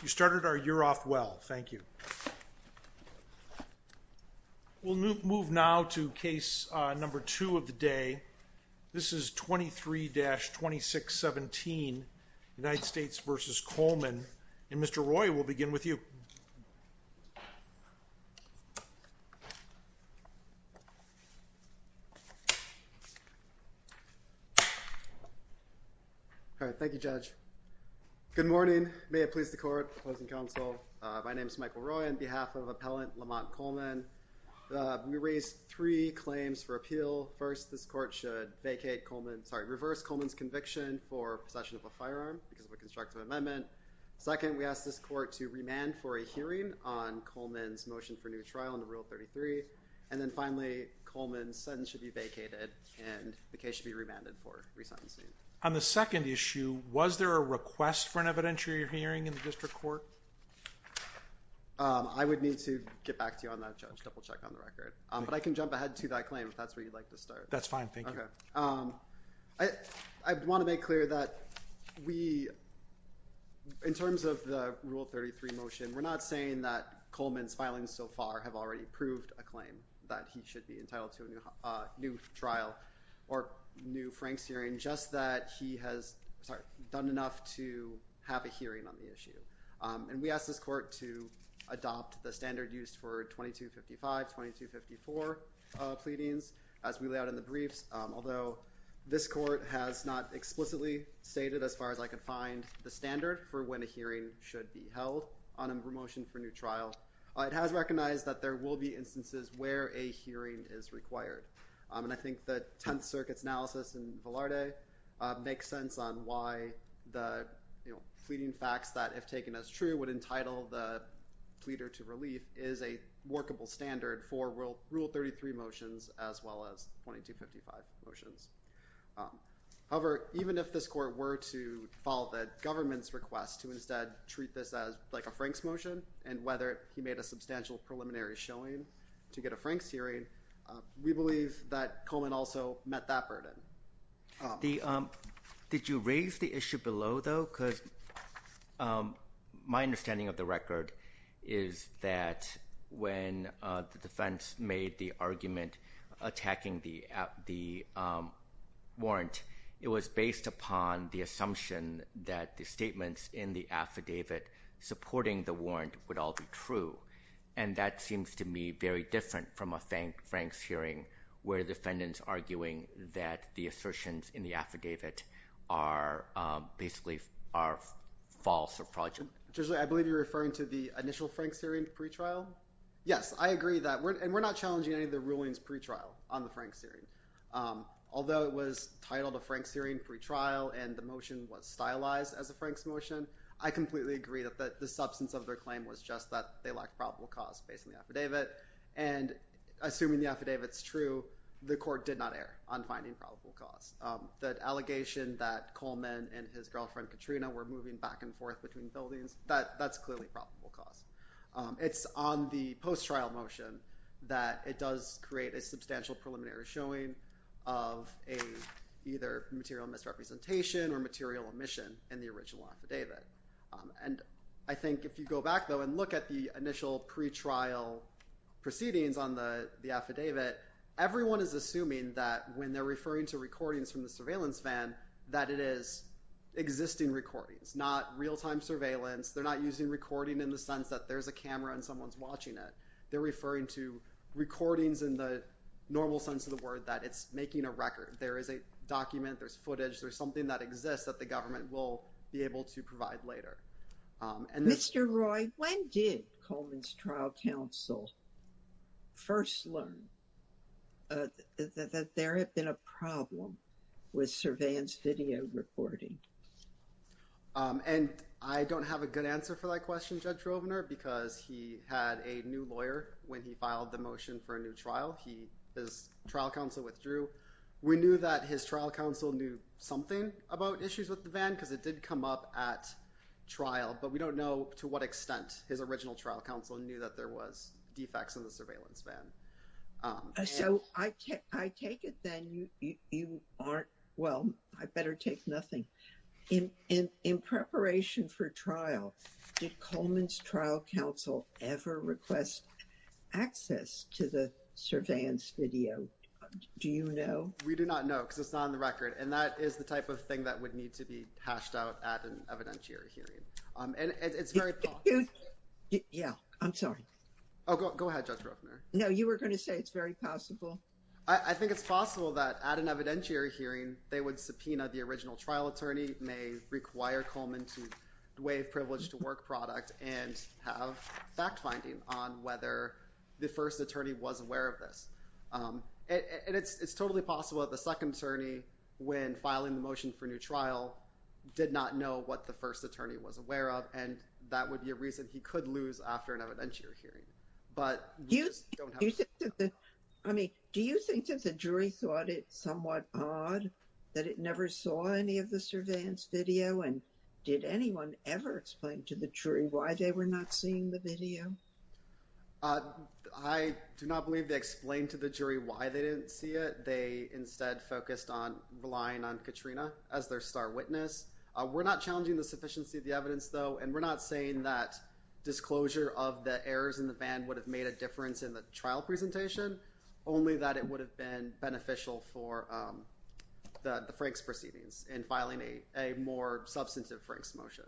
You started our year off well, thank you. We'll move now to case number two of the day. This is 23-2617, United States v. Coleman. And Mr. Roy, we'll begin with you. All right, thank you, Judge. Good morning. May it please the court, opposing counsel. My name is Michael Roy on behalf of Appellant Lamont Coleman. We raise three claims for appeal. First, this court should vacate Coleman's – sorry, reverse Coleman's conviction for possession of a firearm because of a constructive amendment. Second, we ask this court to remand for a hearing on Coleman's motion for new trial under Rule 33. And then finally, Coleman's sentence should be vacated and the case should be remanded for re-sentencing. On the second issue, was there a request for an evidentiary hearing in the district court? I would need to get back to you on that, Judge, double-check on the record. But I can jump ahead to that claim if that's where you'd like to start. That's fine, thank you. Okay. I want to make clear that we – in terms of the Rule 33 motion, we're not saying that Coleman's filings so far have already proved a claim, that he should be entitled to a new trial or new Franks hearing, just that he has done enough to have a hearing on the issue. And we ask this court to adopt the standard used for 2255, 2254 pleadings as we lay out in the briefs. Although this court has not explicitly stated, as far as I can find, the standard for when a hearing should be held on a motion for new trial, it has recognized that there will be instances where a hearing is required. And I think the Tenth Circuit's analysis in Velarde makes sense on why the pleading facts that, if taken as true, would entitle the pleader to relief is a workable standard for Rule 33 motions as well as 2255 motions. However, even if this court were to follow the government's request to instead treat this as like a Franks motion and whether he made a substantial preliminary showing to get a Franks hearing, we believe that Coleman also met that burden. Did you raise the issue below, though? Because my understanding of the record is that when the defense made the argument attacking the warrant, it was based upon the assumption that the statements in the affidavit supporting the warrant would all be true. And that seems to me very different from a Franks hearing where defendants are arguing that the assertions in the affidavit are basically false or fraudulent. Judge Lee, I believe you're referring to the initial Franks hearing pretrial? Yes, I agree that. And we're not challenging any of the rulings pretrial on the Franks hearing. Although it was titled a Franks hearing pretrial and the motion was stylized as a Franks motion, I completely agree that the substance of their claim was just that they lacked probable cause based on the affidavit. And assuming the affidavit's true, the court did not err on finding probable cause. That allegation that Coleman and his girlfriend Katrina were moving back and forth between buildings, that's clearly probable cause. It's on the post-trial motion that it does create a substantial preliminary showing of either material misrepresentation or material omission in the original affidavit. And I think if you go back, though, and look at the initial pretrial proceedings on the affidavit, everyone is assuming that when they're referring to recordings from the surveillance van that it is existing recordings, not real-time surveillance. They're not using recording in the sense that there's a camera and someone's watching it. They're referring to recordings in the normal sense of the word that it's making a record. There is a document, there's footage, there's something that exists that the government will be able to provide later. Mr. Roy, when did Coleman's trial counsel first learn that there had been a problem with surveillance video recording? And I don't have a good answer for that question, Judge Rovner, because he had a new lawyer when he filed the motion for a new trial. His trial counsel withdrew. We knew that his trial counsel knew something about issues with the van because it did come up at trial, but we don't know to what extent his original trial counsel knew that there was defects in the surveillance van. So I take it then you aren't, well, I better take nothing. In preparation for trial, did Coleman's trial counsel ever request access to the surveillance video? Do you know? We do not know because it's not on the record. And that is the type of thing that would need to be hashed out at an evidentiary hearing. And it's very popular. Yeah, I'm sorry. Oh, go ahead, Judge Rovner. No, you were going to say it's very possible. I think it's possible that at an evidentiary hearing, they would subpoena the original trial attorney, may require Coleman to waive privilege to work product, and have fact-finding on whether the first attorney was aware of this. And it's totally possible that the second attorney, when filing the motion for a new trial, did not know what the first attorney was aware of, and that would be a reason he could lose after an evidentiary hearing. Do you think that the jury thought it somewhat odd that it never saw any of the surveillance video? And did anyone ever explain to the jury why they were not seeing the video? I do not believe they explained to the jury why they didn't see it. They instead focused on relying on Katrina as their star witness. We're not challenging the sufficiency of the evidence, though, and we're not saying that disclosure of the errors in the ban would have made a difference in the trial presentation, only that it would have been beneficial for the Franks proceedings in filing a more substantive Franks motion.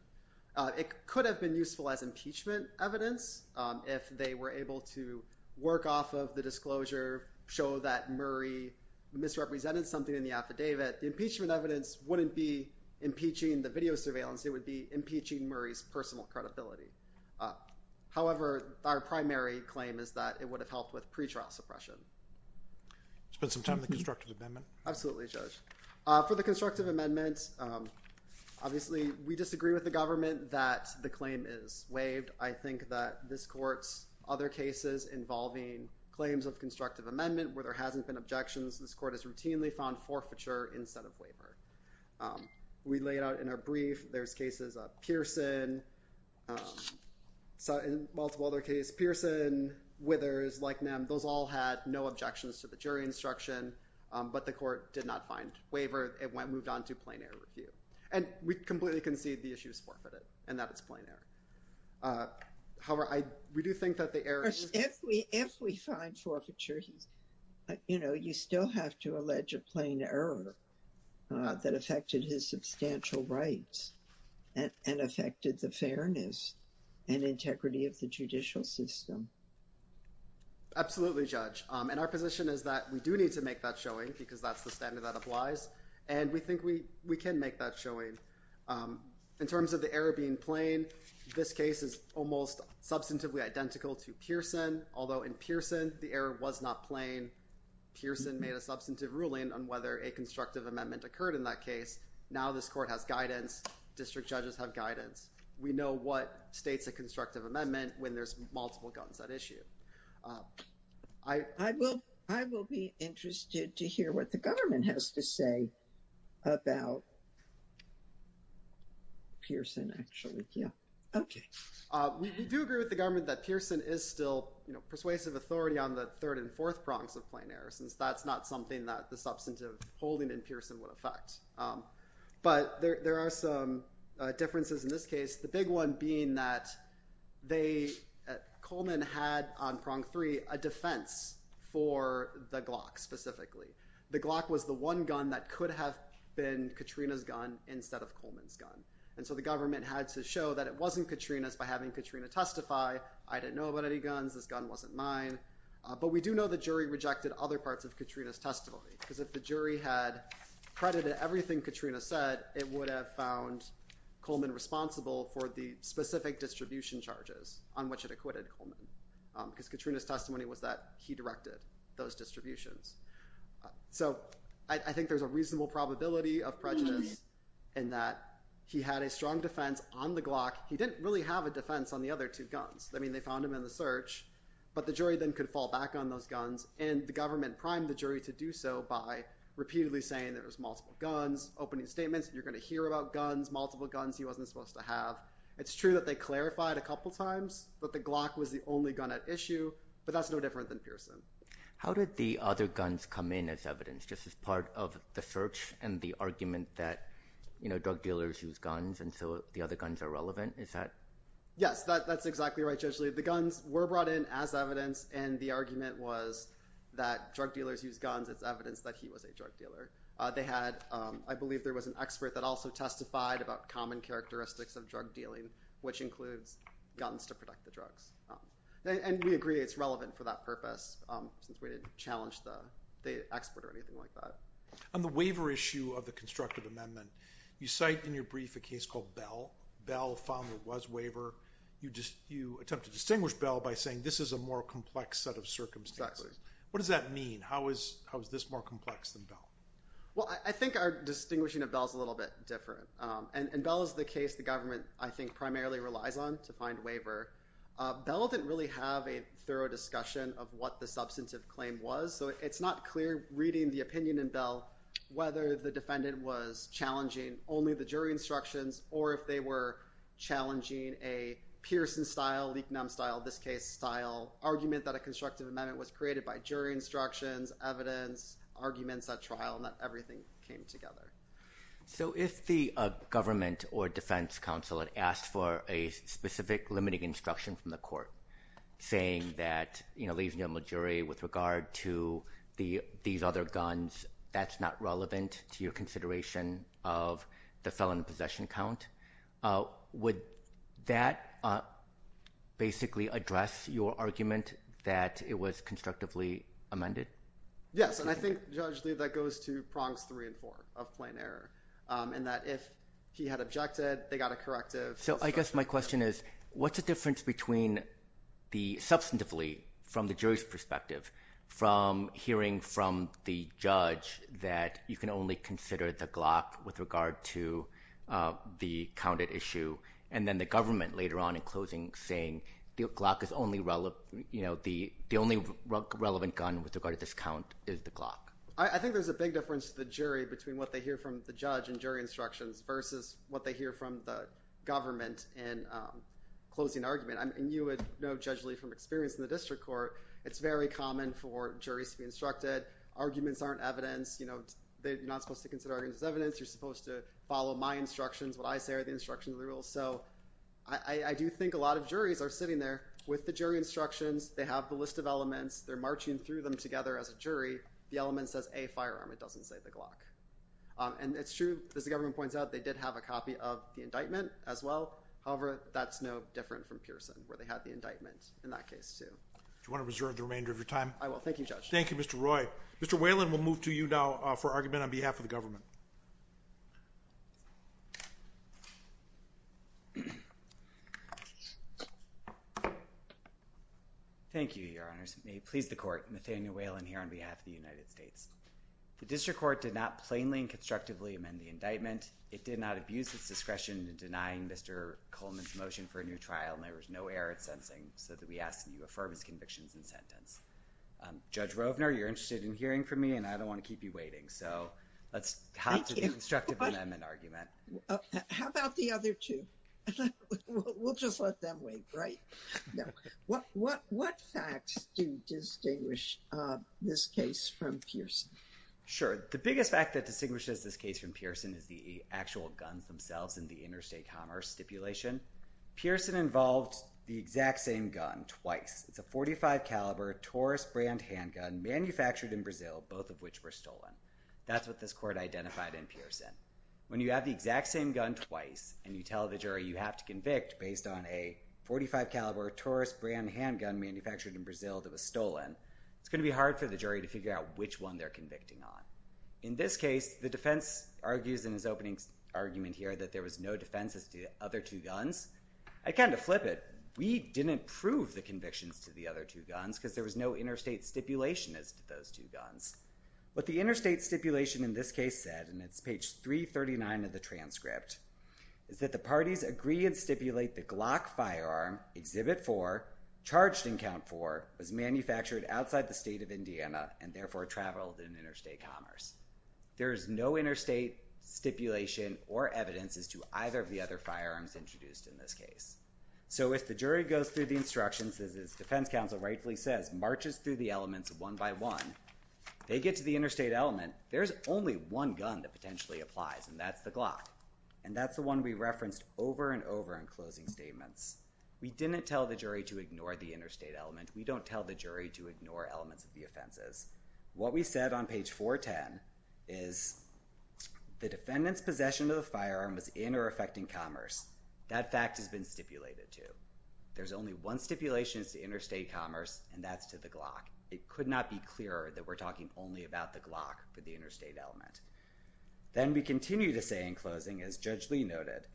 It could have been useful as impeachment evidence if they were able to work off of the disclosure, show that Murray misrepresented something in the affidavit. The impeachment evidence wouldn't be impeaching the video surveillance. It would be impeaching Murray's personal credibility. However, our primary claim is that it would have helped with pretrial suppression. Spend some time on the constructive amendment. Absolutely, Judge. For the constructive amendments. Obviously, we disagree with the government that the claim is waived. I think that this court's other cases involving claims of constructive amendment where there hasn't been objections. This court is routinely found forfeiture instead of waiver. We laid out in our brief. There's cases of Pearson, multiple other cases, Pearson, Withers, like them. Those all had no objections to the jury instruction. But the court did not find waiver. It went moved on to plain error review. And we completely concede the issue is forfeited and that it's plain error. However, we do think that the error. If we find forfeiture, you know, you still have to allege a plain error that affected his substantial rights and affected the fairness and integrity of the judicial system. Absolutely, Judge. And our position is that we do need to make that showing because that's the standard that applies. And we think we we can make that showing. In terms of the error being plain, this case is almost substantively identical to Pearson, although in Pearson, the error was not plain. Pearson made a substantive ruling on whether a constructive amendment occurred in that case. Now, this court has guidance. District judges have guidance. We know what states a constructive amendment when there's multiple guns at issue. I will. I will be interested to hear what the government has to say about. Pearson, actually. OK, we do agree with the government that Pearson is still persuasive authority on the third and fourth prongs of plain error, since that's not something that the substantive holding in Pearson would affect. But there are some differences in this case. The big one being that Coleman had on prong three a defense for the Glock specifically. The Glock was the one gun that could have been Katrina's gun instead of Coleman's gun. And so the government had to show that it wasn't Katrina's by having Katrina testify. I didn't know about any guns. This gun wasn't mine. But we do know the jury rejected other parts of Katrina's testimony, because if the jury had credited everything Katrina said, it would have found Coleman responsible for the specific distribution charges on which it acquitted Coleman. Because Katrina's testimony was that he directed those distributions. So I think there's a reasonable probability of prejudice in that he had a strong defense on the Glock. He didn't really have a defense on the other two guns. I mean, they found him in the search, but the jury then could fall back on those guns. And the government primed the jury to do so by repeatedly saying there was multiple guns, opening statements, you're going to hear about guns, multiple guns he wasn't supposed to have. It's true that they clarified a couple times that the Glock was the only gun at issue, but that's no different than Pearson. How did the other guns come in as evidence, just as part of the search and the argument that drug dealers use guns and so the other guns are relevant? Yes, that's exactly right, Judge Lee. The guns were brought in as evidence, and the argument was that drug dealers use guns. It's evidence that he was a drug dealer. They had, I believe there was an expert that also testified about common characteristics of drug dealing, which includes guns to protect the drugs. And we agree it's relevant for that purpose, since we didn't challenge the expert or anything like that. On the waiver issue of the constructive amendment, you cite in your brief a case called Bell. Bell found there was waiver. You attempt to distinguish Bell by saying this is a more complex set of circumstances. Exactly. What does that mean? How is this more complex than Bell? Well, I think our distinguishing of Bell is a little bit different, and Bell is the case the government, I think, primarily relies on to find waiver. Bell didn't really have a thorough discussion of what the substantive claim was, so it's not clear reading the opinion in Bell whether the defendant was challenging only the jury instructions or if they were challenging a Pearson-style, Leaknum-style, this case-style argument that a constructive amendment was created by jury instructions, evidence, arguments at trial, and that everything came together. So if the government or defense counsel had asked for a specific limiting instruction from the court, saying that, you know, ladies and gentlemen of the jury, with regard to these other guns, that's not relevant to your consideration of the felon possession count, would that basically address your argument that it was constructively amended? Yes, and I think, Judge Lee, that goes to prongs three and four of plain error, in that if he had objected, they got a corrective. So I guess my question is, what's the difference between the – substantively, from the jury's perspective, from hearing from the judge that you can only consider the Glock with regard to the counted issue, and then the government later on in closing saying the Glock is only – the only relevant gun with regard to this count is the Glock? I think there's a big difference to the jury between what they hear from the judge in jury instructions versus what they hear from the government in closing argument. And you would know, Judge Lee, from experience in the district court, it's very common for juries to be instructed. Arguments aren't evidence. You're not supposed to consider arguments as evidence. You're supposed to follow my instructions. What I say are the instructions of the rules. So I do think a lot of juries are sitting there with the jury instructions. They have the list of elements. They're marching through them together as a jury. The element says, A, firearm. It doesn't say the Glock. And it's true, as the government points out, they did have a copy of the indictment as well. However, that's no different from Pearson, where they had the indictment in that case too. Do you want to reserve the remainder of your time? I will. Thank you, Judge. Thank you, Mr. Roy. Mr. Whalen, we'll move to you now for argument on behalf of the government. Thank you, Your Honors. May it please the Court, Nathaniel Whalen here on behalf of the United States. The district court did not plainly and constructively amend the indictment. It did not abuse its discretion in denying Mr. Coleman's motion for a new trial, and there was no error it's sensing, so that we ask that you affirm his convictions and sentence. Judge Rovner, you're interested in hearing from me, and I don't want to keep you waiting, so let's hop to the constructive amendment argument. How about the other two? We'll just let them wait, right? What facts do distinguish this case from Pearson? Sure. The biggest fact that distinguishes this case from Pearson is the actual guns themselves in the interstate commerce stipulation. Pearson involved the exact same gun twice. It's a .45 caliber Taurus brand handgun manufactured in Brazil, both of which were stolen. That's what this court identified in Pearson. When you have the exact same gun twice, and you tell the jury you have to convict based on a .45 caliber Taurus brand handgun manufactured in Brazil that was stolen, it's going to be hard for the jury to figure out which one they're convicting on. In this case, the defense argues in his opening argument here that there was no defenses to the other two guns. I kind of flip it. We didn't prove the convictions to the other two guns because there was no interstate stipulation as to those two guns. What the interstate stipulation in this case said, and it's page 339 of the transcript, is that the parties agree and stipulate the Glock firearm, Exhibit 4, charged in Count 4, was manufactured outside the state of Indiana and therefore traveled in interstate commerce. There is no interstate stipulation or evidence as to either of the other firearms introduced in this case. So if the jury goes through the instructions, as the defense counsel rightfully says, marches through the elements one by one, they get to the interstate element, there's only one gun that potentially applies, and that's the Glock. And that's the one we referenced over and over in closing statements. We didn't tell the jury to ignore the interstate element. We don't tell the jury to ignore elements of the offenses. What we said on page 410 is the defendant's possession of the firearm was in or affecting commerce. That fact has been stipulated, too. There's only one stipulation as to interstate commerce, and that's to the Glock. It could not be clearer that we're talking only about the Glock for the interstate element. Then we continue to say in closing, as Judge Lee noted,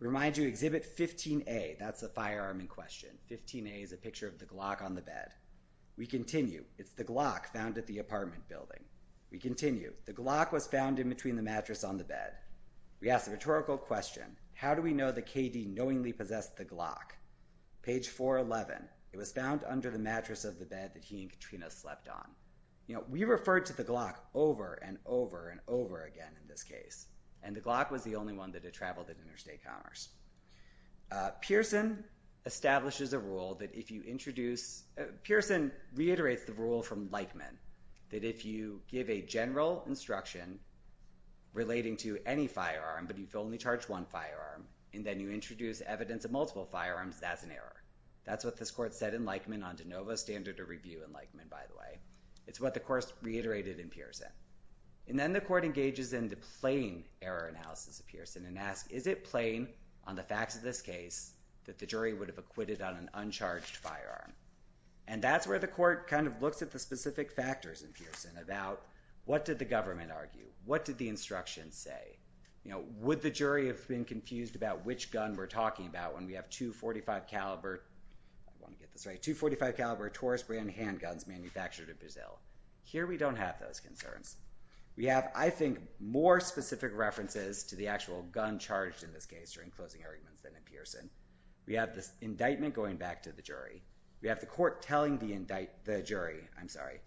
we remind you Exhibit 15A, that's the firearm in question. 15A is a picture of the Glock on the bed. We continue, it's the Glock found at the apartment building. We continue, the Glock was found in between the mattress on the bed. We ask the rhetorical question, how do we know that K.D. knowingly possessed the Glock? Page 411, it was found under the mattress of the bed that he and Katrina slept on. You know, we referred to the Glock over and over and over again in this case, and the Glock was the only one that had traveled in interstate commerce. Pearson establishes a rule that if you introduce – Pearson reiterates the rule from Leichman that if you give a general instruction relating to any firearm, but you've only charged one firearm, and then you introduce evidence of multiple firearms, that's an error. That's what this court said in Leichman on de novo standard of review in Leichman, by the way. It's what the court reiterated in Pearson. And then the court engages in the plain error analysis of Pearson and asks, is it plain on the facts of this case that the jury would have acquitted on an uncharged firearm? And that's where the court kind of looks at the specific factors in Pearson about what did the government argue? What did the instruction say? You know, would the jury have been confused about which gun we're talking about when we have two .45 caliber – I want to get this right – two .45 caliber Taurus brand handguns manufactured in Brazil? Here we don't have those concerns. We have, I think, more specific references to the actual gun charged in this case during closing arguments than in Pearson. We have this indictment going back to the jury. We have the court telling the jury – I'm sorry.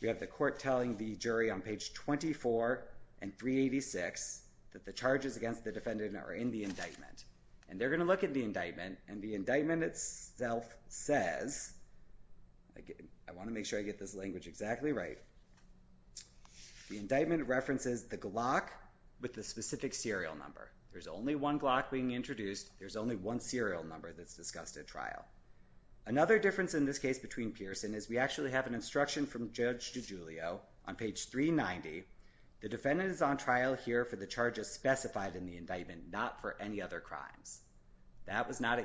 We have the court telling the jury on page 24 and 386 that the charges against the defendant are in the indictment. And they're going to look at the indictment, and the indictment itself says – I want to make sure I get this language exactly right. The indictment references the Glock with the specific serial number. There's only one Glock being introduced. There's only one serial number that's discussed at trial. Another difference in this case between Pearson is we actually have an instruction from Judge DiGiulio on page 390. The defendant is on trial here for the charges specified in the indictment, not for any other crimes. That was not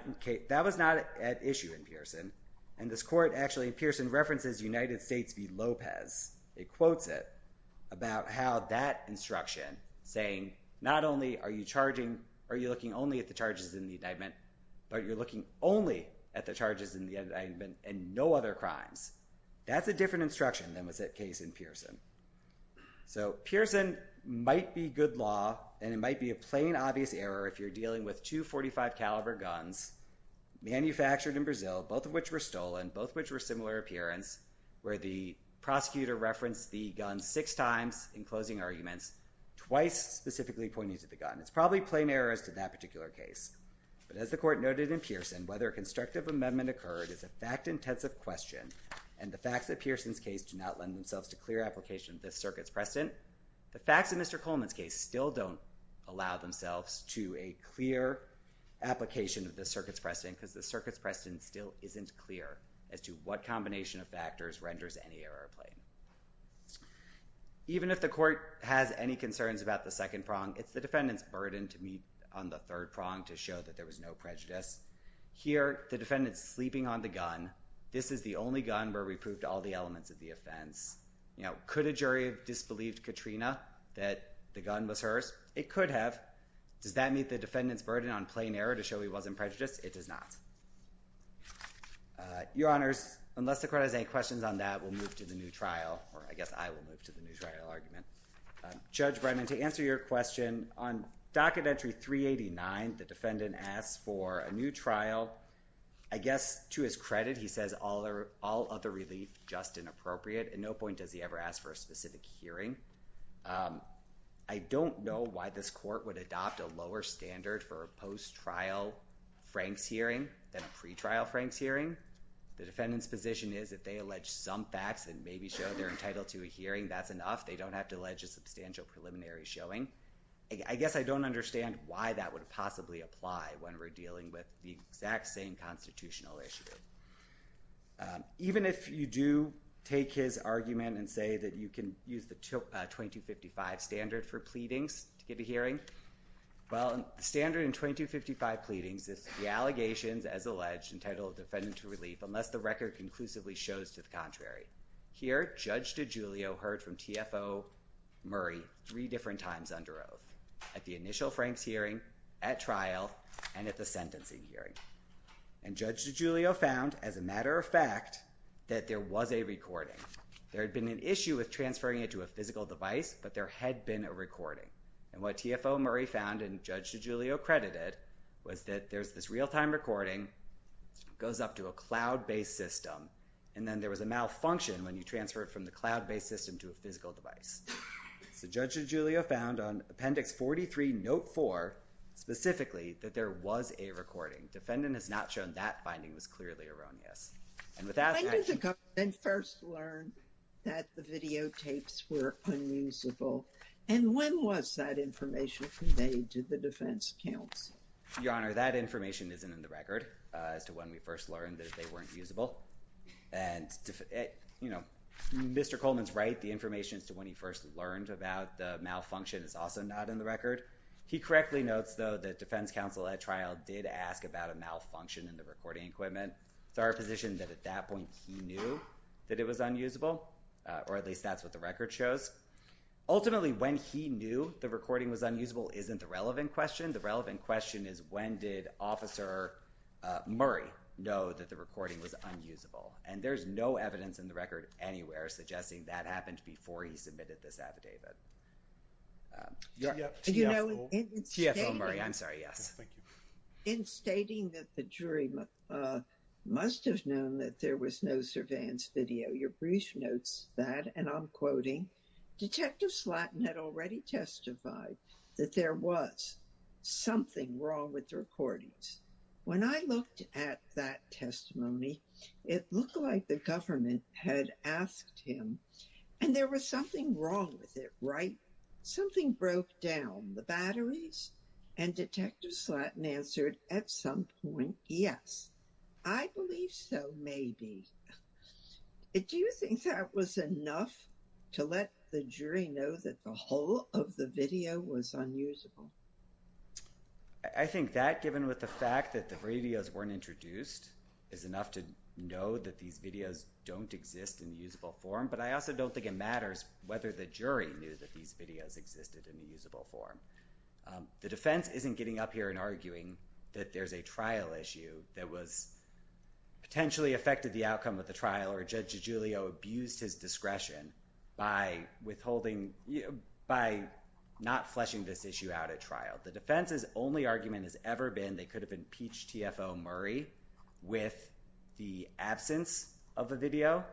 at issue in Pearson. And this court actually in Pearson references United States v. Lopez. It quotes it about how that instruction saying not only are you looking only at the charges in the indictment, but you're looking only at the charges in the indictment and no other crimes. That's a different instruction than was at case in Pearson. So Pearson might be good law, and it might be a plain, obvious error if you're dealing with two .45 caliber guns manufactured in Brazil, both of which were stolen, both of which were similar appearance, where the prosecutor referenced the gun six times in closing arguments, twice specifically pointing to the gun. It's probably plain errors to that particular case. But as the court noted in Pearson, whether constructive amendment occurred is a fact-intensive question, and the facts of Pearson's case do not lend themselves to clear application of this circuit's precedent. The facts of Mr. Coleman's case still don't allow themselves to a clear application of this circuit's precedent because the circuit's precedent still isn't clear as to what combination of factors renders any error plain. Even if the court has any concerns about the second prong, it's the defendant's burden to meet on the third prong to show that there was no prejudice. Here the defendant's sleeping on the gun. This is the only gun where we proved all the elements of the offense. Could a jury have disbelieved Katrina that the gun was hers? It could have. Does that meet the defendant's burden on plain error to show he wasn't prejudiced? It does not. Your Honors, unless the court has any questions on that, we'll move to the new trial, or I guess I will move to the new trial argument. Judge Brennan, to answer your question, on docket entry 389, the defendant asks for a new trial. I guess to his credit he says all other relief just inappropriate, and no point does he ever ask for a specific hearing. I don't know why this court would adopt a lower standard for a post-trial Franks hearing than a pre-trial Franks hearing. The defendant's position is if they allege some facts and maybe show they're entitled to a hearing, that's enough. They don't have to allege a substantial preliminary showing. I guess I don't understand why that would possibly apply when we're dealing with the exact same constitutional issue. Even if you do take his argument and say that you can use the 2255 standard for pleadings to get a hearing, well, the standard in 2255 pleadings is the allegations as alleged entitled the defendant to relief unless the record conclusively shows to the contrary. Here, Judge DiGiulio heard from TFO Murray three different times under oath, at the initial Franks hearing, at trial, and at the sentencing hearing. And Judge DiGiulio found, as a matter of fact, that there was a recording. There had been an issue with transferring it to a physical device, but there had been a recording. And what TFO Murray found and Judge DiGiulio credited was that there's this real-time recording, goes up to a cloud-based system, and then there was a malfunction when you transfer it from the cloud-based system to a physical device. So Judge DiGiulio found on Appendix 43, Note 4, specifically, that there was a recording. Defendant has not shown that finding was clearly erroneous. And with that— When did the government first learn that the videotapes were unusable, and when was that information conveyed to the defense counsel? Your Honor, that information isn't in the record as to when we first learned that they weren't usable. And, you know, Mr. Coleman's right, the information as to when he first learned about the malfunction is also not in the record. He correctly notes, though, that defense counsel at trial did ask about a malfunction in the recording equipment. It's our position that at that point he knew that it was unusable, or at least that's what the record shows. Ultimately, when he knew the recording was unusable isn't the relevant question. The relevant question is when did Officer Murray know that the recording was unusable? And there's no evidence in the record anywhere suggesting that happened before he submitted this affidavit. TFO? TFO Murray, I'm sorry. Yes. Thank you. In stating that the jury must have known that there was no surveillance video, your brief notes that, and I'm quoting, Detective Slatton had already testified that there was something wrong with the recordings. When I looked at that testimony, it looked like the government had asked him and there was something wrong with it, right? Something broke down. The batteries? And Detective Slatton answered at some point, yes. I believe so, maybe. Do you think that was enough to let the jury know that the whole of the video was unusable? I think that, given with the fact that the videos weren't introduced, is enough to know that these videos don't exist in usable form. But I also don't think it matters whether the jury knew that these videos existed in a usable form. The defense isn't getting up here and arguing that there's a trial issue that was potentially affected the outcome of the trial or Judge DiGiulio abused his discretion by withholding, by not fleshing this issue out at trial. The defense's only argument has ever been they could have impeached TFO Murray with the absence of a video.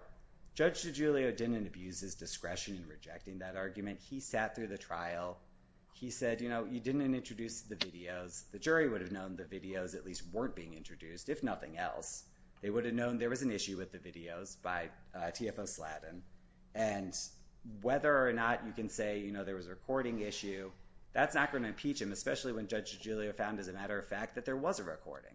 Judge DiGiulio didn't abuse his discretion in rejecting that argument. He sat through the trial. He said, you know, you didn't introduce the videos. The jury would have known the videos at least weren't being introduced, if nothing else. They would have known there was an issue with the videos by TFO Sladden. And whether or not you can say, you know, there was a recording issue, that's not going to impeach him, especially when Judge DiGiulio found, as a matter of fact, that there was a recording.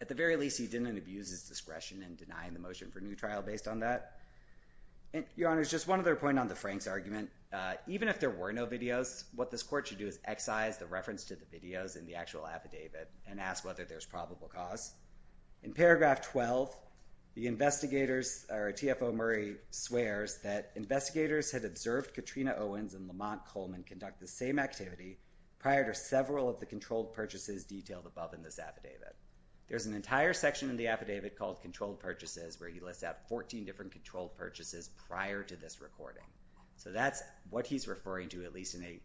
At the very least, he didn't abuse his discretion in denying the motion for new trial based on that. Your Honor, just one other point on the Franks argument. Even if there were no videos, what this court should do is excise the reference to the videos in the actual affidavit and ask whether there's probable cause. In paragraph 12, the investigators or TFO Murray swears that investigators had observed Katrina Owens and Lamont Coleman conduct the same activity prior to several of the controlled purchases detailed above in this affidavit. There's an entire section in the affidavit called controlled purchases where he lists out 14 different controlled purchases prior to this recording. So that's what he's referring to, at least in a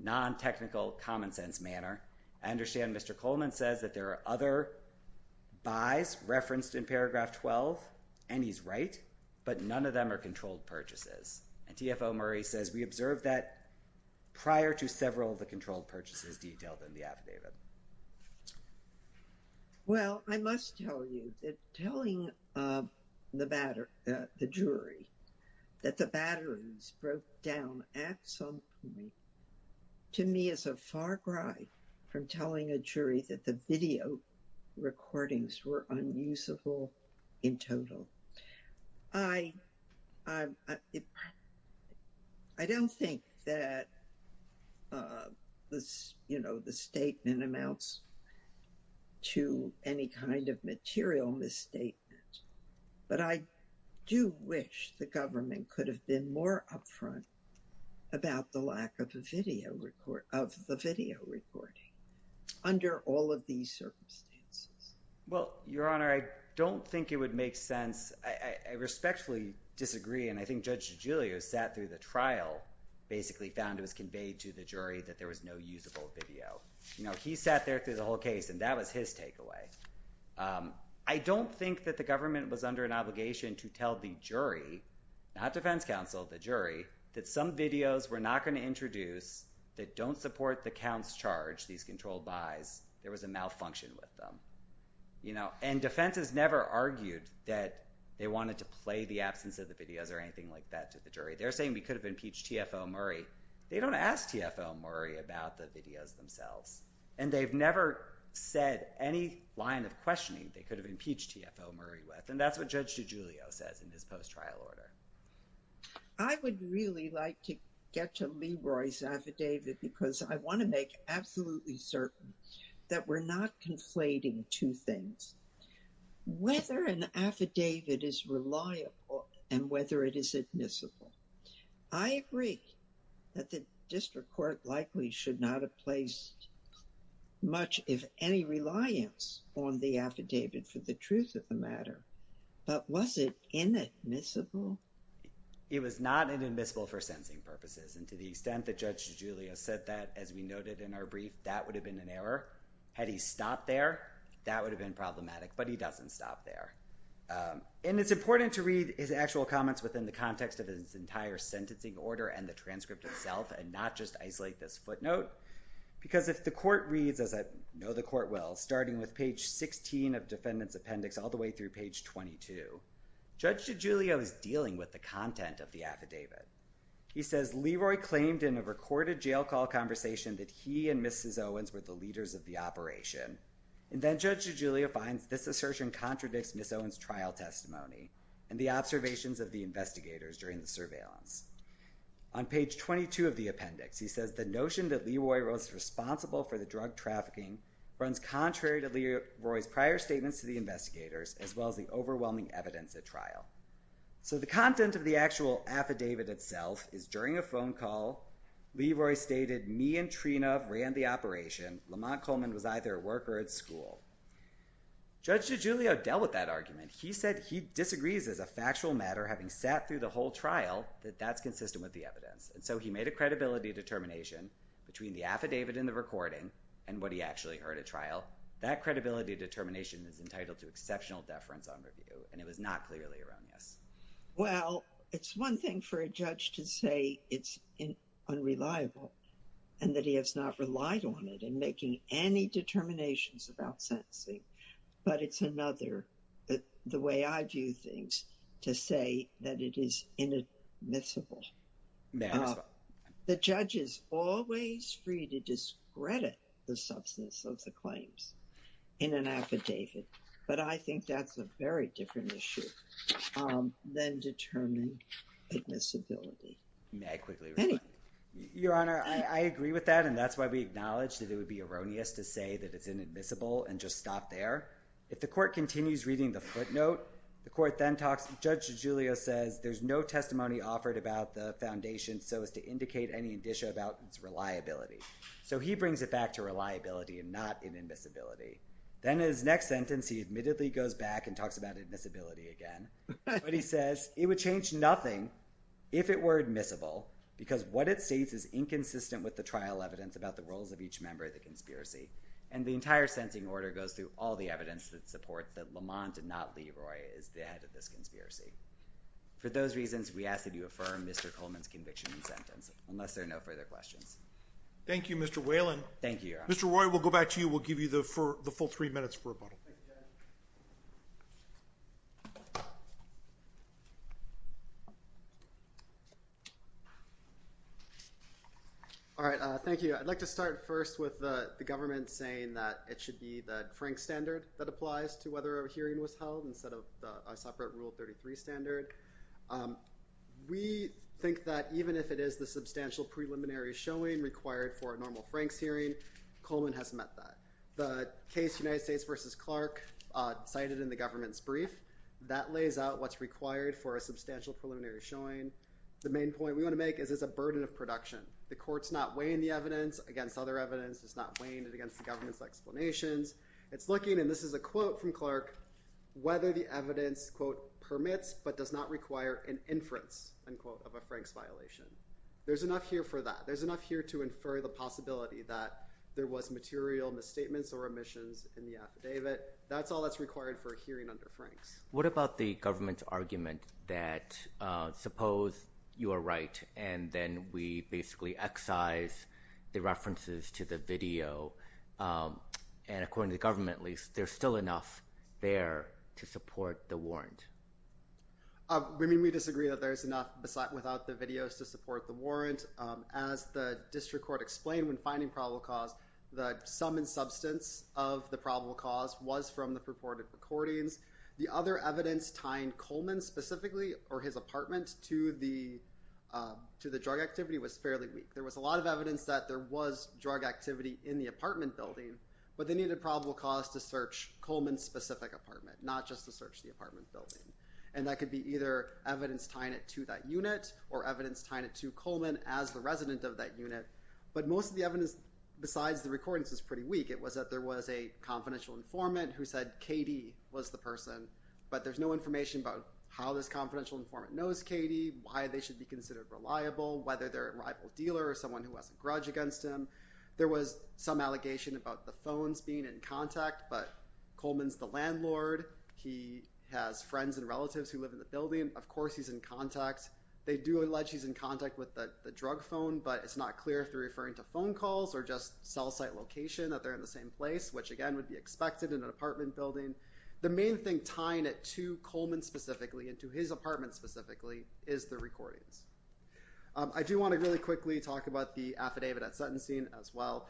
non-technical, common sense manner. I understand Mr. Coleman says that there are other buys referenced in paragraph 12, and he's right, but none of them are controlled purchases. And TFO Murray says we observed that prior to several of the controlled purchases detailed in the affidavit. Well, I must tell you that telling the jury that the batteries broke down at some point, to me, is a far cry from telling a jury that the video recordings were unusable in total. I don't think that, you know, the statement amounts to any kind of material misstatement, but I do wish the government could have been more upfront about the lack of the video recording under all of these circumstances. Well, Your Honor, I don't think it would make sense. I respectfully disagree, and I think Judge DeGiulio sat through the trial, basically found it was conveyed to the jury that there was no usable video. You know, he sat there through the whole case, and that was his takeaway. I don't think that the government was under an obligation to tell the jury, not defense counsel, the jury, that some videos were not going to introduce that don't support the counts charged, these controlled buys. There was a malfunction with them, you know, and defense has never argued that they wanted to play the absence of the videos or anything like that to the jury. They're saying we could have impeached T.F.O. Murray. They don't ask T.F.O. Murray about the videos themselves, and they've never said any line of questioning they could have impeached T.F.O. Murray with, and that's what Judge DeGiulio says in his post-trial order. I would really like to get to Leroy's affidavit because I want to make absolutely certain that we're not conflating two things, whether an affidavit is reliable and whether it is admissible. I agree that the district court likely should not have placed much, if any, reliance on the affidavit for the truth of the matter, but was it inadmissible? It was not inadmissible for sentencing purposes, and to the extent that Judge DeGiulio said that, as we noted in our brief, that would have been an error. Had he stopped there, that would have been problematic, but he doesn't stop there. It's important to read his actual comments within the context of his entire sentencing order and the transcript itself and not just isolate this footnote because if the court reads, as I know the court will, starting with page 16 of defendant's appendix all the way through page 22, Judge DeGiulio is dealing with the content of the affidavit. He says, Leroy claimed in a recorded jail call conversation that he and Mrs. Owens were the leaders of the operation, and then Judge DeGiulio finds this assertion contradicts Ms. Owens' trial testimony and the observations of the investigators during the surveillance. On page 22 of the appendix, he says, the notion that Leroy was responsible for the drug trafficking runs contrary to Leroy's prior statements to the investigators as well as the overwhelming evidence at trial. So the content of the actual affidavit itself is during a phone call, Leroy stated, me and Trina ran the operation. Lamont Coleman was either at work or at school. Judge DeGiulio dealt with that argument. He said he disagrees as a factual matter having sat through the whole trial that that's consistent with the evidence, and so he made a credibility determination between the affidavit and the recording and what he actually heard at trial. That credibility determination is entitled to exceptional deference on review, and it was not clearly erroneous. Well, it's one thing for a judge to say it's unreliable and that he has not relied on it in making any determinations about sentencing, but it's another, the way I view things, to say that it is inadmissible. The judge is always free to discredit the substance of the claims in an affidavit, but I think that's a very different issue than determining admissibility. May I quickly reply? Your Honor, I agree with that, and that's why we acknowledge that it would be erroneous to say that it's inadmissible and just stop there. If the court continues reading the footnote, the court then talks, Judge DeGiulio says there's no testimony offered about the foundation so as to indicate any indicia about its reliability. So he brings it back to reliability and not inadmissibility. Then in his next sentence he admittedly goes back and talks about admissibility again, but he says it would change nothing if it were admissible because what it states is inconsistent with the trial evidence about the roles of each member of the conspiracy. And the entire sentencing order goes through all the evidence that supports that Lamont and not Leroy is the head of this conspiracy. For those reasons, we ask that you affirm Mr. Coleman's conviction and sentence unless there are no further questions. Thank you, Mr. Whalen. Thank you, Your Honor. Mr. Roy, we'll go back to you. We'll give you the full three minutes for rebuttal. Thank you. I'd like to start first with the government saying that it should be the Frank standard that applies to whether a hearing was held instead of a separate Rule 33 standard. We think that even if it is the substantial preliminary showing required for a normal Franks hearing, Coleman has met that. The case United States versus Clark cited in the government's brief, that lays out what's required for a substantial preliminary showing. The main point we want to make is it's a burden of production. The court's not weighing the evidence against other evidence. It's not weighing it against the government's explanations. It's looking, and this is a quote from Clark, whether the evidence, quote, permits but does not require an inference, unquote, of a Franks violation. There's enough here for that. We don't see the possibility that there was material misstatements or omissions in the affidavit. That's all that's required for a hearing under Franks. What about the government's argument that suppose you are right, and then we basically excise the references to the video, and according to the government, at least, there's still enough there to support the warrant? We disagree that there's enough without the videos to support the warrant. As the district court explained when finding probable cause, the sum and substance of the probable cause was from the purported recordings. The other evidence tying Coleman specifically or his apartment to the drug activity was fairly weak. There was a lot of evidence that there was drug activity in the apartment building, but they needed probable cause to search Coleman's specific apartment, not just to search the apartment building. And that could be either evidence tying it to that unit or evidence tying it to Coleman as the resident of that unit. But most of the evidence besides the recordings is pretty weak. It was that there was a confidential informant who said Katie was the person, but there's no information about how this confidential informant knows Katie, why they should be considered reliable, whether they're a rival dealer or someone who has a grudge against him. There was some allegation about the phones being in contact, but Coleman's the landlord. He has friends and relatives who live in the building. Of course he's in contact. They do allege he's in contact with the drug phone, but it's not clear if they're referring to phone calls or just cell site location that they're in the same place, which again, would be expected in an apartment building. The main thing tying it to Coleman specifically and to his apartment specifically is the recordings. I do want to really quickly talk about the affidavit at sentencing as well.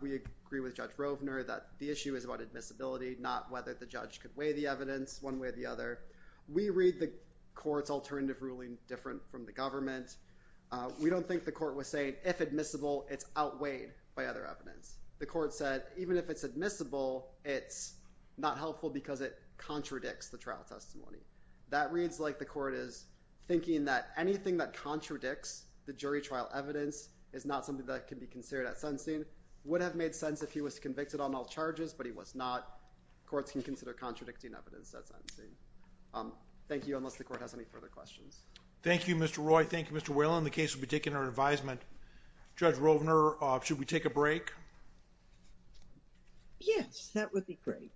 We agree with Judge Rovner that the issue is about admissibility, not whether the judge could weigh the evidence one way or the other. We read the court's alternative ruling different from the government. We don't think the court was saying if admissible, it's outweighed by other evidence. The court said even if it's admissible, it's not helpful because it contradicts the trial testimony. That reads like the court is thinking that anything that contradicts the jury trial evidence is not something that can be considered at sentencing, would have made sense if he was convicted on all charges, but he was not. Courts can consider contradicting evidence at sentencing. Thank you, unless the court has any further questions. Thank you, Mr. Roy. Thank you, Mr. Whalen. The case will be taken under advisement. Judge Rovner, should we take a break? Yes, that would be great.